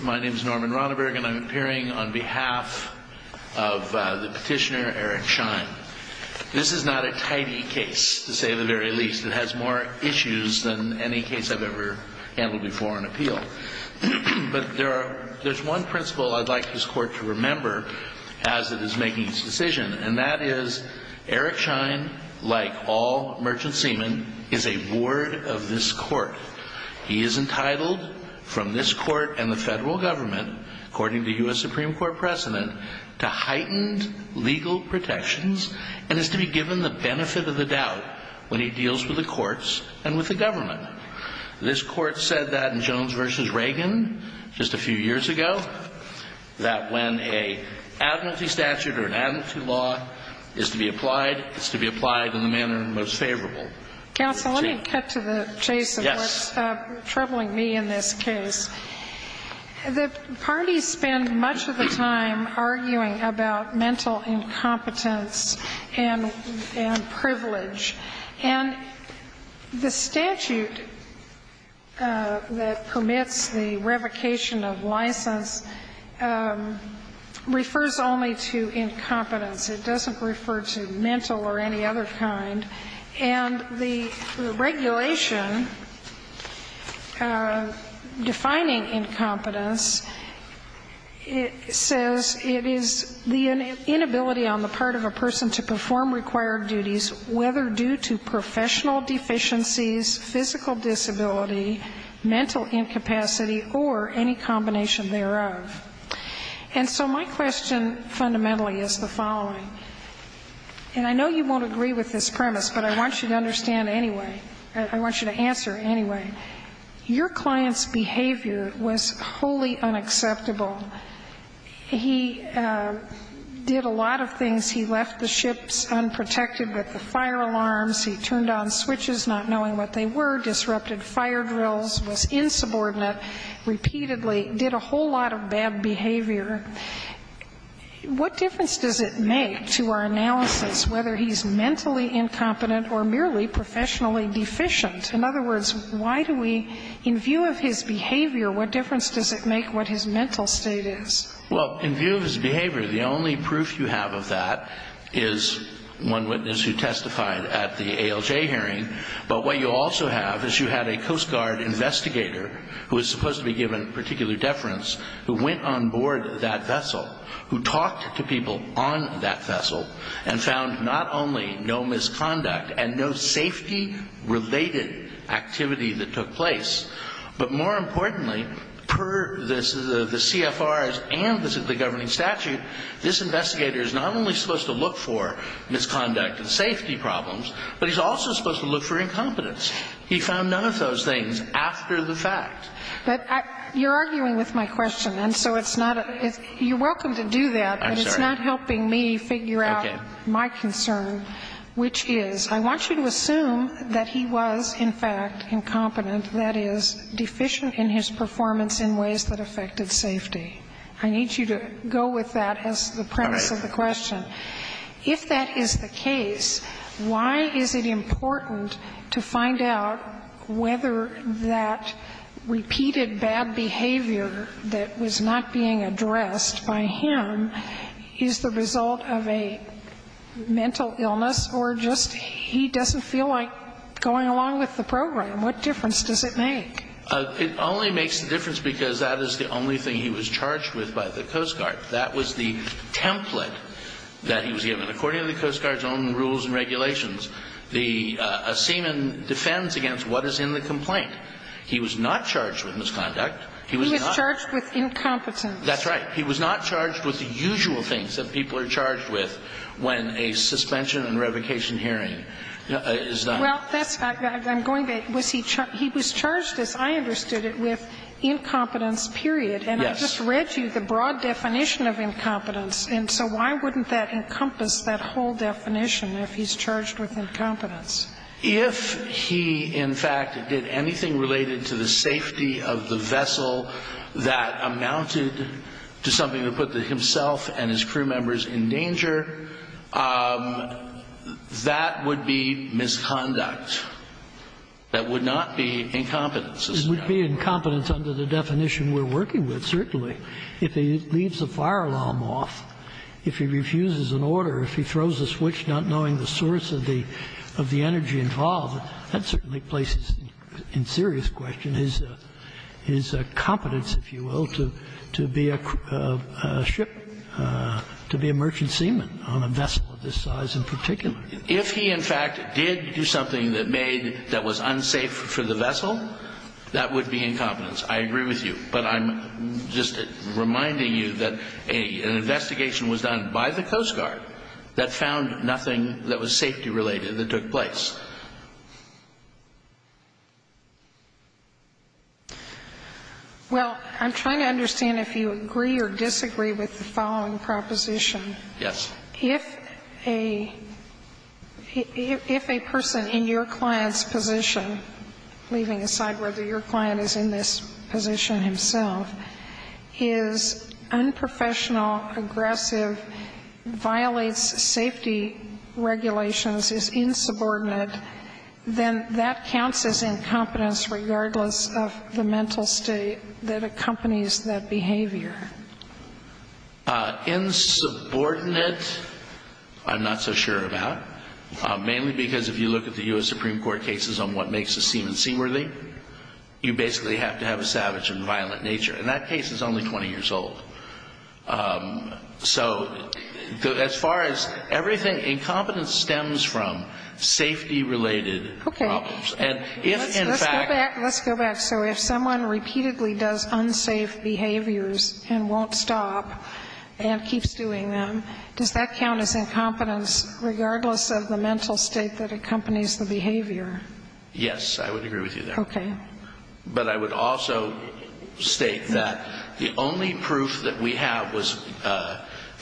My name is Norman Ronneberg and I'm appearing on behalf of the petitioner Eric Shine. This is not a tidy case, to say the very least. It has more issues than any case I've ever handled before on appeal. But there's one principle I'd like this court to remember as it is making its decision, and that is Eric Shine, like all merchant seamen, is a ward of this court. He is entitled from this court and the federal government, according to U.S. Supreme Court precedent, to heightened legal protections and is to be given the benefit of the doubt when he deals with the courts and with the government. This court said that in Jones v. Reagan just a few years ago, that when an amnesty statute or an amnesty law is to be applied, it's to be applied in the manner most favorable. Counsel, let me cut to the chase of what's troubling me in this case. The parties spend much of the time arguing about mental incompetence and privilege. And the statute that permits the revocation of license refers only to incompetence. It doesn't refer to mental or any other kind. And the regulation defining incompetence says it is the inability on the part of a person to perform required duties, whether due to professional deficiencies, physical disability, mental incapacity, or any combination thereof. And so my question fundamentally is the following. And I know you won't agree with this premise, but I want you to understand anyway, I want you to answer anyway. Your client's behavior was wholly unacceptable. He did a lot of things. He left the ships unprotected with the fire alarms. He turned on switches not knowing what they were, disrupted fire drills, was insubordinate, repeatedly did a whole lot of bad behavior. What difference does it make to our analysis whether he's mentally incompetent or merely professionally deficient? In other words, why do we, in view of his behavior, what difference does it make what his mental state is? Well, in view of his behavior, the only proof you have of that is one witness who testified at the ALJ hearing. But what you also have is you had a Coast Guard investigator who was supposed to be given particular deference who went on board that vessel, who talked to people on that vessel and found not only no misconduct and no safety-related activity that took place, but more importantly, per the CFRs and the governing statute, this investigator is not only supposed to look for misconduct and safety problems, but he's also supposed to look for incompetence. He found none of those things after the fact. But you're arguing with my question, and so it's not a you're welcome to do that. But it's not helping me figure out my concern, which is I want you to assume that he was, in fact, incompetent, that is, deficient in his performance in ways that affected safety. I need you to go with that as the premise of the question. If that is the case, why is it important to find out whether that repeated bad behavior that was not being addressed by him is the result of a mental illness or just he doesn't feel like going along with the program? What difference does it make? It only makes the difference because that is the only thing he was charged with by the Coast Guard. That was the template that he was given. According to the Coast Guard's own rules and regulations, the seaman defends against what is in the complaint. He was not charged with misconduct. He was not. He was charged with incompetence. That's right. He was not charged with the usual things that people are charged with when a suspension and revocation hearing is done. Well, that's not what I'm going by. He was charged, as I understood it, with incompetence, period. Yes. I just read to you the broad definition of incompetence. And so why wouldn't that encompass that whole definition if he's charged with incompetence? If he, in fact, did anything related to the safety of the vessel that amounted to something that put himself and his crew members in danger, that would be misconduct. That would not be incompetence. It would be incompetence under the definition we're working with, certainly. If he leaves a fire alarm off, if he refuses an order, if he throws a switch not knowing the source of the energy involved, that certainly places in serious question his competence, if you will, to be a ship, to be a merchant seaman on a vessel of this size in particular. If he, in fact, did do something that made that was unsafe for the vessel, that would be incompetence. I agree with you. But I'm just reminding you that an investigation was done by the Coast Guard that found nothing that was safety-related that took place. Well, I'm trying to understand if you agree or disagree with the following proposition. Yes. If a person in your client's position, leaving aside whether your client is in this position himself, is unprofessional, aggressive, violates safety regulations, is insubordinate, then that counts as incompetence regardless of the mental state that accompanies that behavior. Insubordinate, I'm not so sure about, mainly because if you look at the U.S. Supreme Court cases on what makes a seaman seaworthy, you basically have to have a savage and violent nature. And that case is only 20 years old. So as far as everything, incompetence stems from safety-related problems. Okay. Let's go back. Let's go back. So if someone repeatedly does unsafe behaviors and won't stop and keeps doing them, does that count as incompetence regardless of the mental state that accompanies the behavior? Yes. I would agree with you there. Okay. But I would also state that the only proof that we have was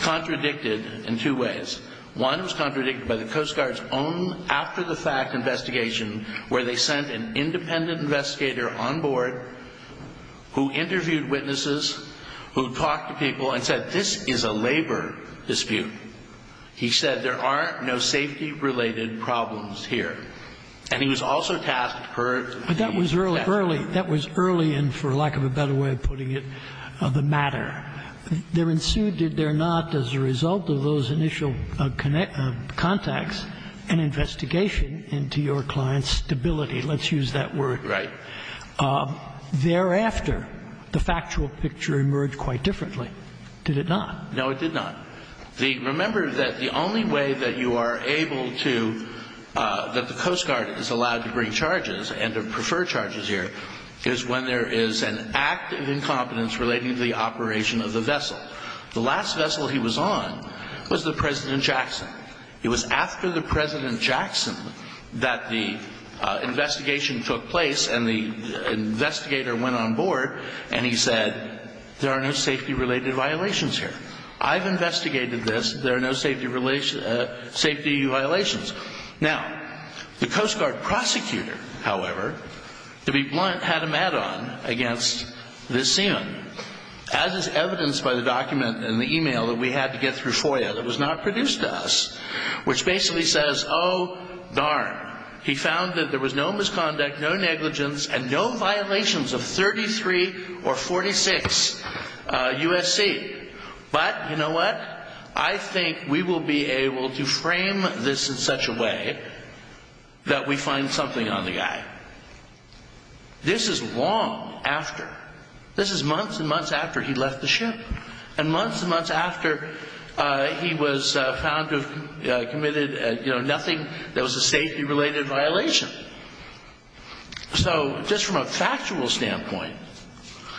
contradicted in two ways. One was contradicted by the Coast Guard's own after-the-fact investigation where they sent an independent investigator on board who interviewed witnesses, who talked to people and said, this is a labor dispute. He said, there are no safety-related problems here. And he was also tasked per the investigation. But that was early. That was early, and for lack of a better way of putting it, the matter. There ensued, did there not, as a result of those initial contacts, an investigation into your client's stability. Let's use that word. Right. Thereafter, the factual picture emerged quite differently. Did it not? No, it did not. Remember that the only way that you are able to, that the Coast Guard is allowed to bring charges and to prefer charges here is when there is an act of incompetence relating to the operation of the vessel. The last vessel he was on was the President Jackson. It was after the President Jackson that the investigation took place and the investigator went on board and he said, there are no safety-related violations here. I've investigated this. There are no safety violations. Now, the Coast Guard prosecutor, however, to be blunt, had him add-on against this seaman. As is evidenced by the document and the e-mail that we had to get through FOIA that was not produced to us, which basically says, oh, darn. He found that there was no misconduct, no negligence, and no violations of 33 or 46 USC. But, you know what? I think we will be able to frame this in such a way that we find something on the guy. This is long after. This is months and months after he left the ship. And months and months after, he was found to have committed, you know, nothing that was a safety-related violation. So just from a factual standpoint,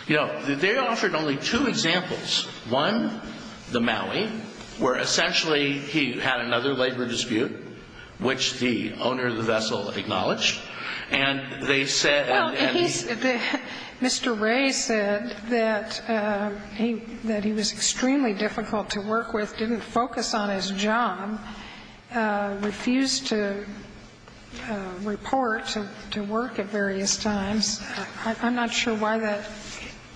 you know, they offered only two examples. One, the Maui, where essentially he had another labor dispute, which the owner of the vessel acknowledged. And they said that he was. difficult to work with, didn't focus on his job, refused to report to work at various times. I'm not sure why that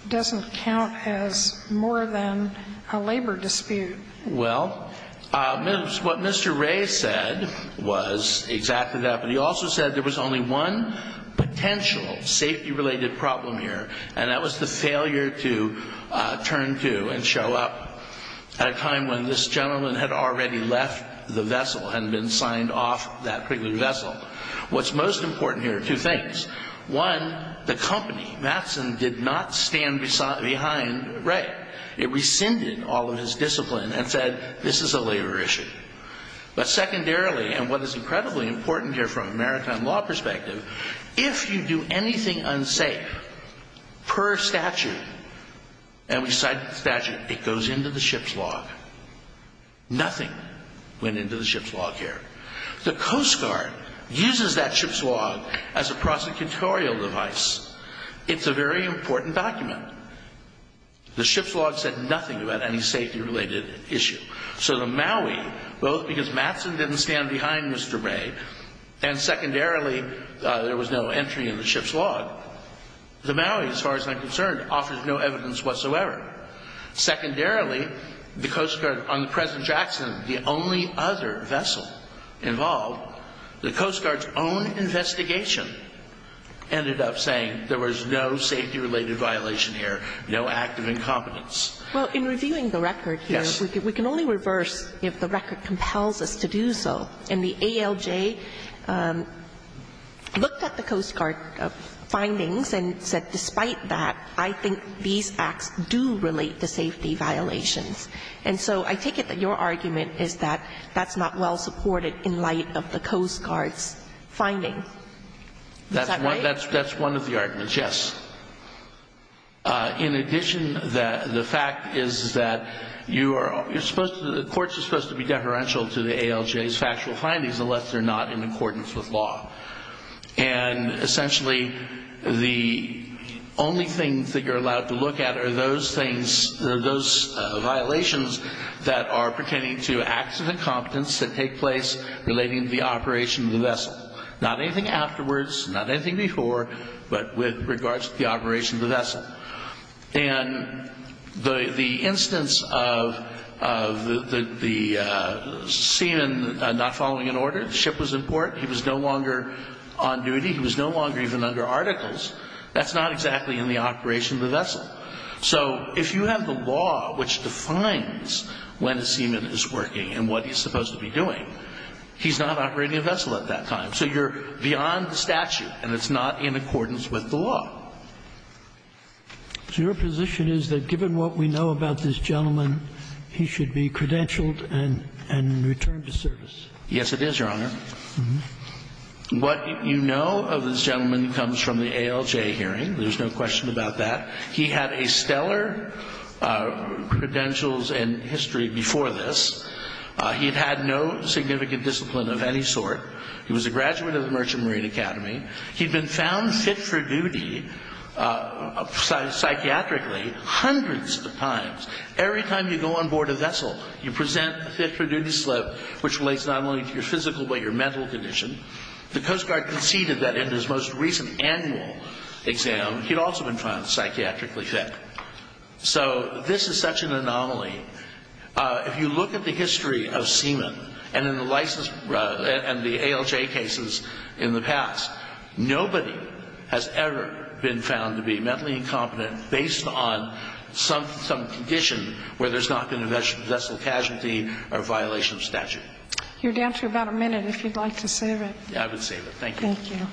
doesn't count as more than a labor dispute. Well, what Mr. Ray said was exactly that. But he also said there was only one potential safety-related problem here, and that was the failure to turn to and show up at a time when this gentleman had already left the vessel, had been signed off that particular vessel. What's most important here are two things. One, the company, Matson, did not stand behind Ray. It rescinded all of his discipline and said, this is a labor issue. But secondarily, and what is incredibly important here from an American law perspective, if you do anything unsafe per statute, and we cited the statute, it goes into the ship's log. Nothing went into the ship's log here. The Coast Guard uses that ship's log as a prosecutorial device. It's a very important document. The ship's log said nothing about any safety-related issue. So the Maui, both because Matson didn't stand behind Mr. Ray, and secondarily, there was no entry in the ship's log, the Maui, as far as I'm concerned, offers no evidence whatsoever. Secondarily, the Coast Guard, on the present Jackson, the only other vessel involved, the Coast Guard's own investigation ended up saying there was no safety-related violation here, no act of incompetence. Well, in reviewing the record here, we can only reverse if the record compels us to do so. And the ALJ looked at the Coast Guard findings and said, despite that, I think these acts do relate to safety violations. And so I take it that your argument is that that's not well supported in light of the Coast Guard's finding. Is that right? That's one of the arguments, yes. In addition, the fact is that the courts are supposed to be deferential to the ALJ's factual findings unless they're not in accordance with law. And essentially, the only things that you're allowed to look at are those things, those violations that are pertaining to acts of incompetence that take place relating to the operation of the vessel. Not anything afterwards, not anything before, but with regards to the operation of the vessel. And the instance of the seaman not following an order, the ship was in port, he was no longer on duty, he was no longer even under articles, that's not exactly in the operation of the vessel. So if you have the law which defines when a seaman is working and what he's supposed to be doing, he's not operating a vessel at that time. So you're beyond the statute and it's not in accordance with the law. So your position is that given what we know about this gentleman, he should be credentialed and returned to service? Yes, it is, Your Honor. What you know of this gentleman comes from the ALJ hearing. There's no question about that. He had a stellar credentials and history before this. He had had no significant discipline of any sort. He was a graduate of the Merchant Marine Academy. He'd been found fit for duty psychiatrically hundreds of times. Every time you go on board a vessel, you present a fit for duty slip which relates not only to your physical but your mental condition. The Coast Guard conceded that in his most recent annual exam, he'd also been found psychiatrically fit. So this is such an anomaly. If you look at the history of seamen and the ALJ cases in the past, nobody has ever been found to be mentally incompetent based on some condition where there's not been a vessel casualty or violation of statute. You're down to about a minute if you'd like to save it. Thank you. Thank you. Thank you.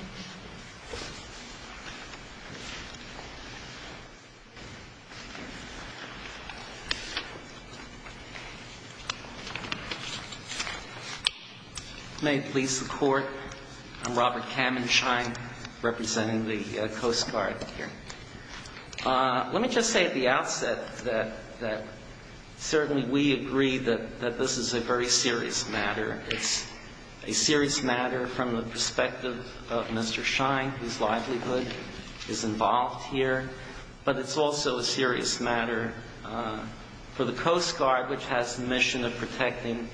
May it please the Court. I'm Robert Kamenschein representing the Coast Guard here. Let me just say at the outset that certainly we agree that this is a very serious matter. It's a serious matter from the perspective of Mr. Shine, whose livelihood is involved here. But it's also a serious matter for the Coast Guard, which has the mission of protecting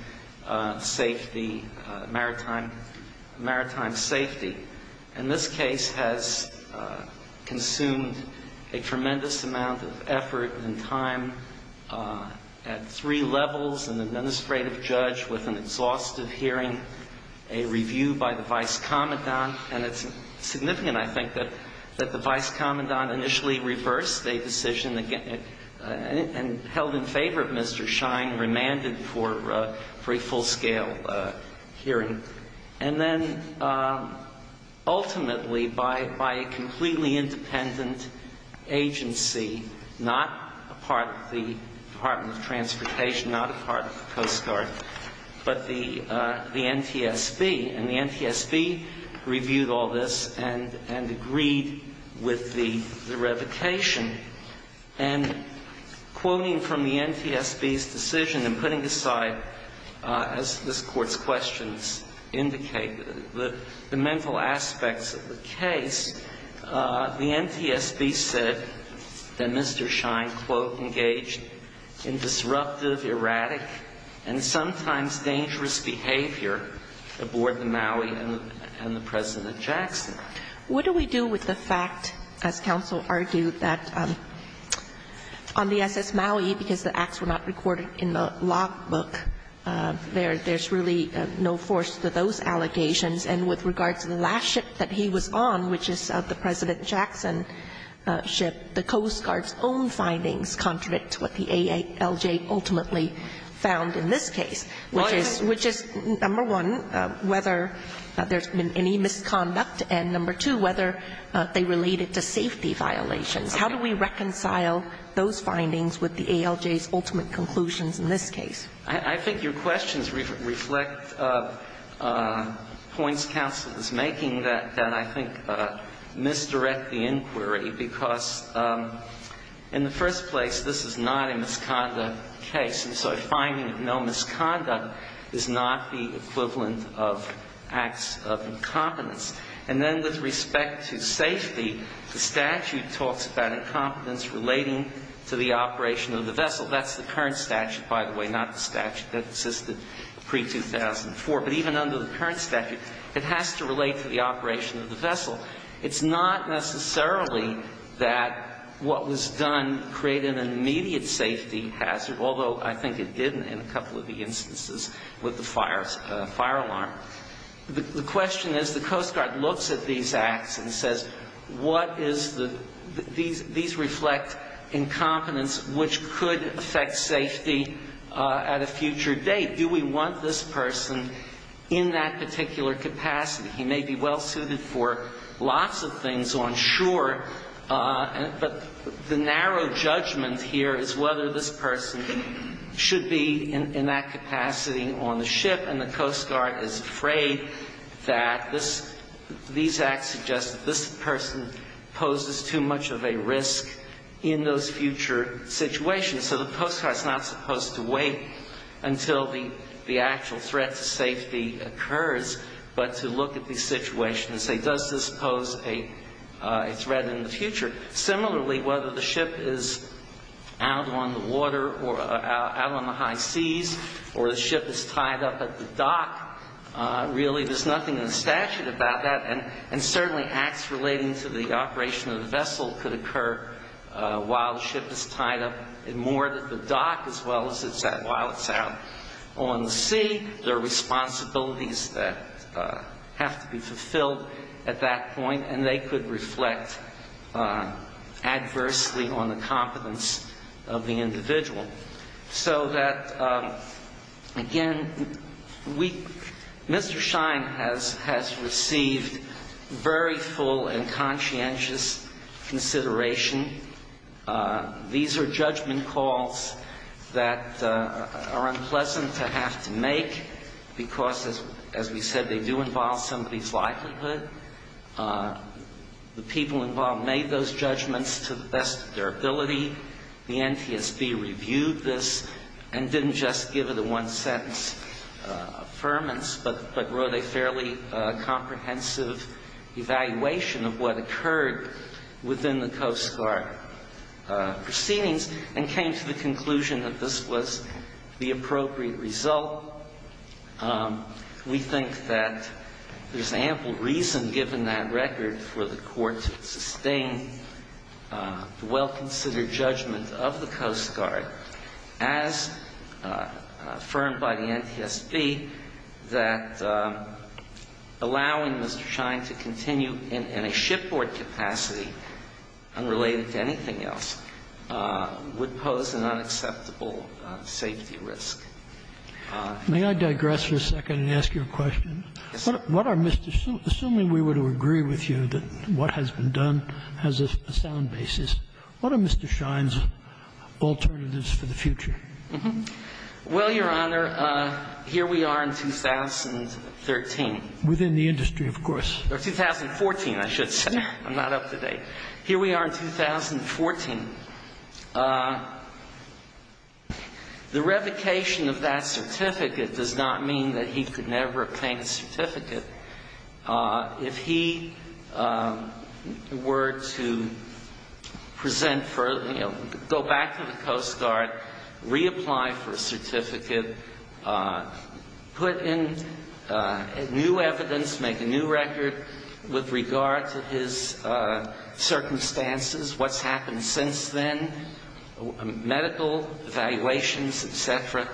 safety, maritime safety. And this case has consumed a tremendous amount of effort and time at three levels, an exhaustive hearing, a review by the Vice Commandant. And it's significant, I think, that the Vice Commandant initially reversed a decision and held in favor of Mr. Shine, remanded for a full-scale hearing. And then ultimately by a completely independent agency, not a part of the Department of the NTSB. And the NTSB reviewed all this and agreed with the revocation. And quoting from the NTSB's decision and putting aside, as this Court's questions indicate, the mental aspects of the case, the NTSB said that Mr. Shine, quote, engaged in disruptive, erratic, and sometimes dangerous behavior aboard the Maui and the President Jackson. What do we do with the fact, as counsel argued, that on the S.S. Maui, because the acts were not recorded in the logbook, there's really no force to those allegations. And with regard to the last ship that he was on, which is the President Jackson ship, the Coast Guard's own findings contradict what the ALJ ultimately found in this case, which is, number one, whether there's been any misconduct, and number two, whether they related to safety violations. How do we reconcile those findings with the ALJ's ultimate conclusions in this case? I think your questions reflect points counsel is making that I think misdirect the inquiry, because in the first place, this is not a misconduct case. And so a finding of no misconduct is not the equivalent of acts of incompetence. And then with respect to safety, the statute talks about incompetence relating to the operation of the vessel. That's the current statute, by the way, not the statute that existed pre-2004. But even under the current statute, it has to relate to the operation of the vessel. It's not necessarily that what was done created an immediate safety hazard, although I think it did in a couple of the instances with the fire alarm. The question is, the Coast Guard looks at these acts and says, what is the – these reflect incompetence, which could affect safety at a future date. Do we want this person in that particular capacity? He may be well suited for lots of things on shore, but the narrow judgment here is whether this person should be in that capacity on the ship. And the Coast Guard is afraid that this – these acts suggest that this person poses too much of a risk in those future situations. So the Coast Guard is not supposed to wait until the actual threat to safety occurs, but to look at these situations and say, does this pose a threat in the future? Similarly, whether the ship is out on the water or out on the high seas or the ship is tied up at the dock, really there's nothing in the statute about that. And certainly acts relating to the operation of the vessel could occur while the ship is tied up and moored at the dock as well as it's out – while it's out on the sea. There are responsibilities that have to be fulfilled at that point, and they could reflect adversely on the competence of the individual. So that, again, we – Mr. Schein has received very full and conscientious consideration. These are judgment calls that are unpleasant to have to make because, as we said, they do involve somebody's likelihood. The people involved made those judgments to the best of their ability. The NTSB reviewed this and didn't just give it a one-sentence affirmance, but wrote a fairly comprehensive evaluation of what occurred within the Coast Guard proceedings and came to the conclusion that this was the appropriate result. We think that there's ample reason, given that record, for the Court to sustain the well-considered judgment of the Coast Guard as affirmed by the NTSB that allowing Mr. Schein to continue in a shipboard capacity unrelated to anything else would pose an unacceptable safety risk. May I digress for a second and ask you a question? Yes, sir. What are Mr. – assuming we were to agree with you that what has been done has a sound basis, what are Mr. Schein's alternatives for the future? Well, Your Honor, here we are in 2013. Within the industry, of course. Or 2014, I should say. I'm not up to date. Here we are in 2014. The revocation of that certificate does not mean that he could never obtain a certificate. If he were to present for – go back to the Coast Guard, reapply for a certificate, put in new evidence, make a new record with regard to his circumstances, what's happened since then, medical evaluations, et cetera,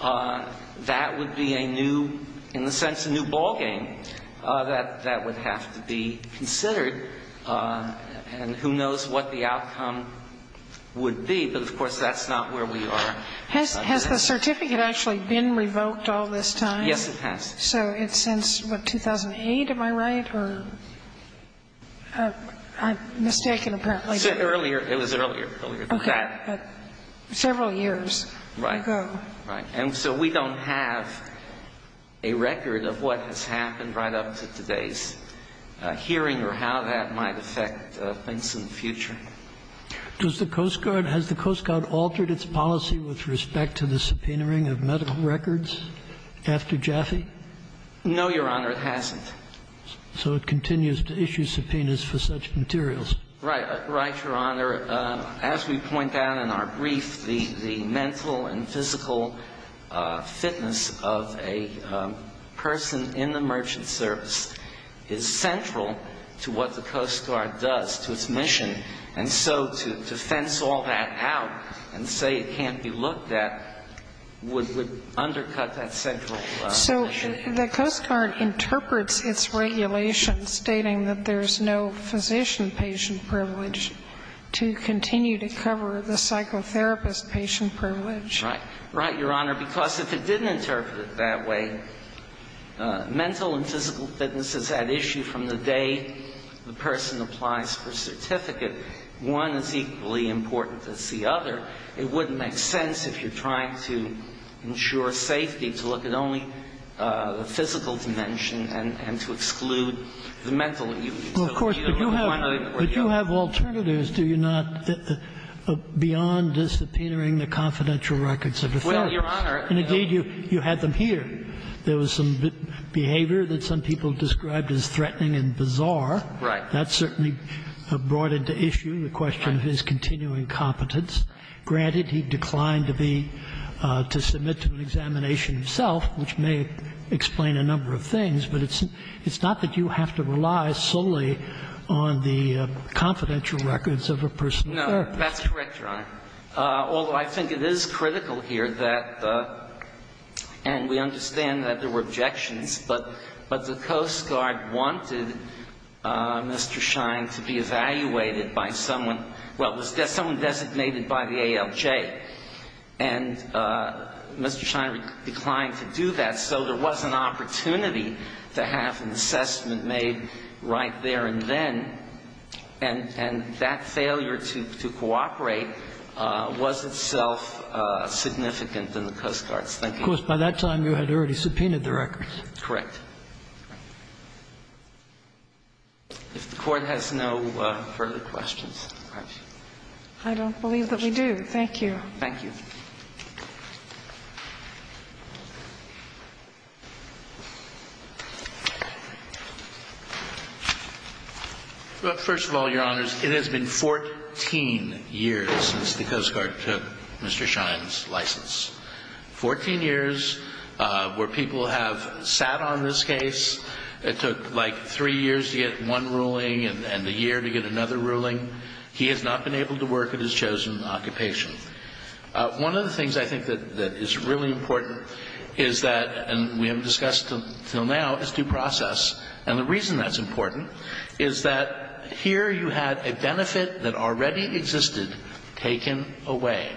that would be a new, in a sense, a new ballgame that would have to be considered. And who knows what the outcome would be. But, of course, that's not where we are. Has the certificate actually been revoked all this time? Yes, it has. So it's since, what, 2008, am I right? I'm mistaken, apparently. Earlier. It was earlier. Okay. Several years ago. Right. And so we don't have a record of what has happened right up to today's hearing or how that might affect things in the future. Does the Coast Guard – has the Coast Guard altered its policy with respect to the subpoenaing of medical records after Jaffe? No, Your Honor, it hasn't. So it continues to issue subpoenas for such materials. Right. Right, Your Honor. However, as we point out in our brief, the mental and physical fitness of a person in the merchant service is central to what the Coast Guard does, to its mission. And so to fence all that out and say it can't be looked at would undercut that central mission. So the Coast Guard interprets its regulation stating that there's no physician patient privilege to continue to cover the psychotherapist patient privilege. Right. Right, Your Honor, because if it didn't interpret it that way, mental and physical fitness is at issue from the day the person applies for a certificate. One is equally important as the other. It wouldn't make sense if you're trying to ensure safety to look at only the physical dimension and to exclude the mental. Well, of course, but you have alternatives, do you not, beyond this subpoenaing the confidential records of defense? Well, Your Honor, no. And, indeed, you had them here. There was some behavior that some people described as threatening and bizarre. Right. That certainly brought into issue the question of his continuing competence. Granted, he declined to be to submit to an examination himself, which may explain a number of things, but it's not that you have to rely solely on the confidential records of a personal therapist. No, that's correct, Your Honor. Although I think it is critical here that, and we understand that there were objections, but the Coast Guard wanted Mr. Shine to be evaluated by someone, well, someone designated by the ALJ. And Mr. Shine declined to do that, so there was an opportunity to have an assessment made right there and then. And that failure to cooperate was itself significant in the Coast Guard's thinking. Of course, by that time you had already subpoenaed the records. Correct. If the Court has no further questions. I don't believe that we do. Thank you. Thank you. Well, first of all, Your Honors, it has been 14 years since the Coast Guard took Mr. Shine's license. Fourteen years where people have sat on this case. It took like three years to get one ruling and a year to get another ruling. He has not been able to work at his chosen occupation. One of the things I think that is really important is that, and we haven't discussed until now, is due process. And the reason that's important is that here you had a benefit that already existed taken away.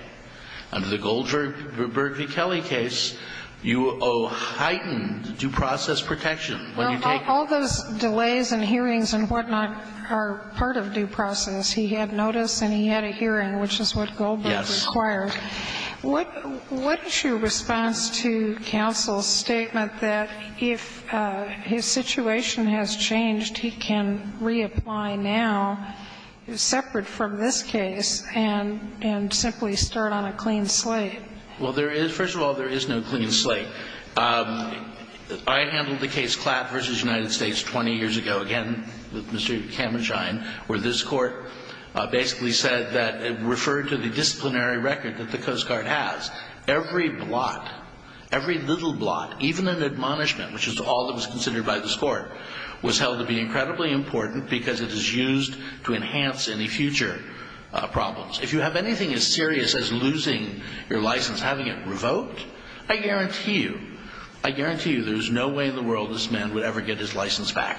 Under the Goldberg v. Kelly case, you owe heightened due process protection when you take it. And Mr. Shine's cases and whatnot are part of due process. He had notice and he had a hearing, which is what Goldberg required. Yes. What is your response to counsel's statement that if his situation has changed, he can reapply now, separate from this case, and simply start on a clean slate? Well, first of all, there is no clean slate. I handled the case Klatt v. United States 20 years ago, again with Mr. Cameron Shine, where this court basically said that it referred to the disciplinary record that the Coast Guard has. Every blot, every little blot, even an admonishment, which is all that was considered by this court, was held to be incredibly important because it is used to enhance any future problems. If you have anything as serious as losing your license, having it revoked, I guarantee you, I guarantee you there is no way in the world this man would ever get his license back.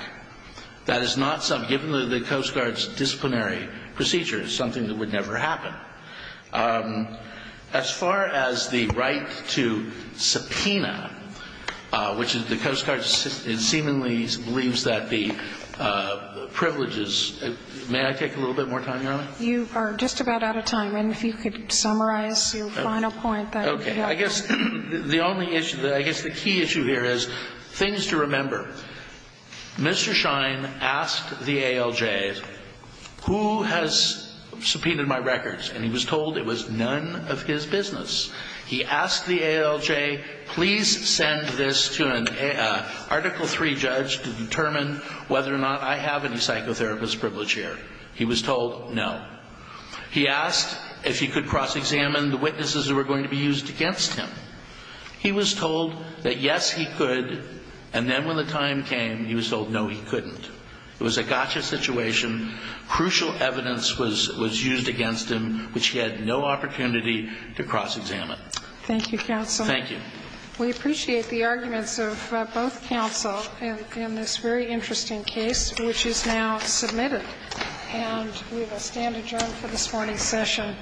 That is not something, given the Coast Guard's disciplinary procedure, something that would never happen. As far as the right to subpoena, which the Coast Guard seemingly believes that the you are just about out of time. And if you could summarize your final point. Okay. I guess the only issue, I guess the key issue here is things to remember. Mr. Shine asked the ALJ, who has subpoenaed my records? And he was told it was none of his business. He asked the ALJ, please send this to an Article III judge to determine whether or not I have any psychotherapist privilege here. He was told no. He asked if he could cross-examine the witnesses that were going to be used against him. He was told that yes, he could. And then when the time came, he was told no, he couldn't. It was a gotcha situation. Crucial evidence was used against him, which he had no opportunity to cross-examine. Thank you, counsel. Thank you. We appreciate the arguments of both counsel in this very interesting case, which is now submitted. And we will stand adjourned for this morning's session.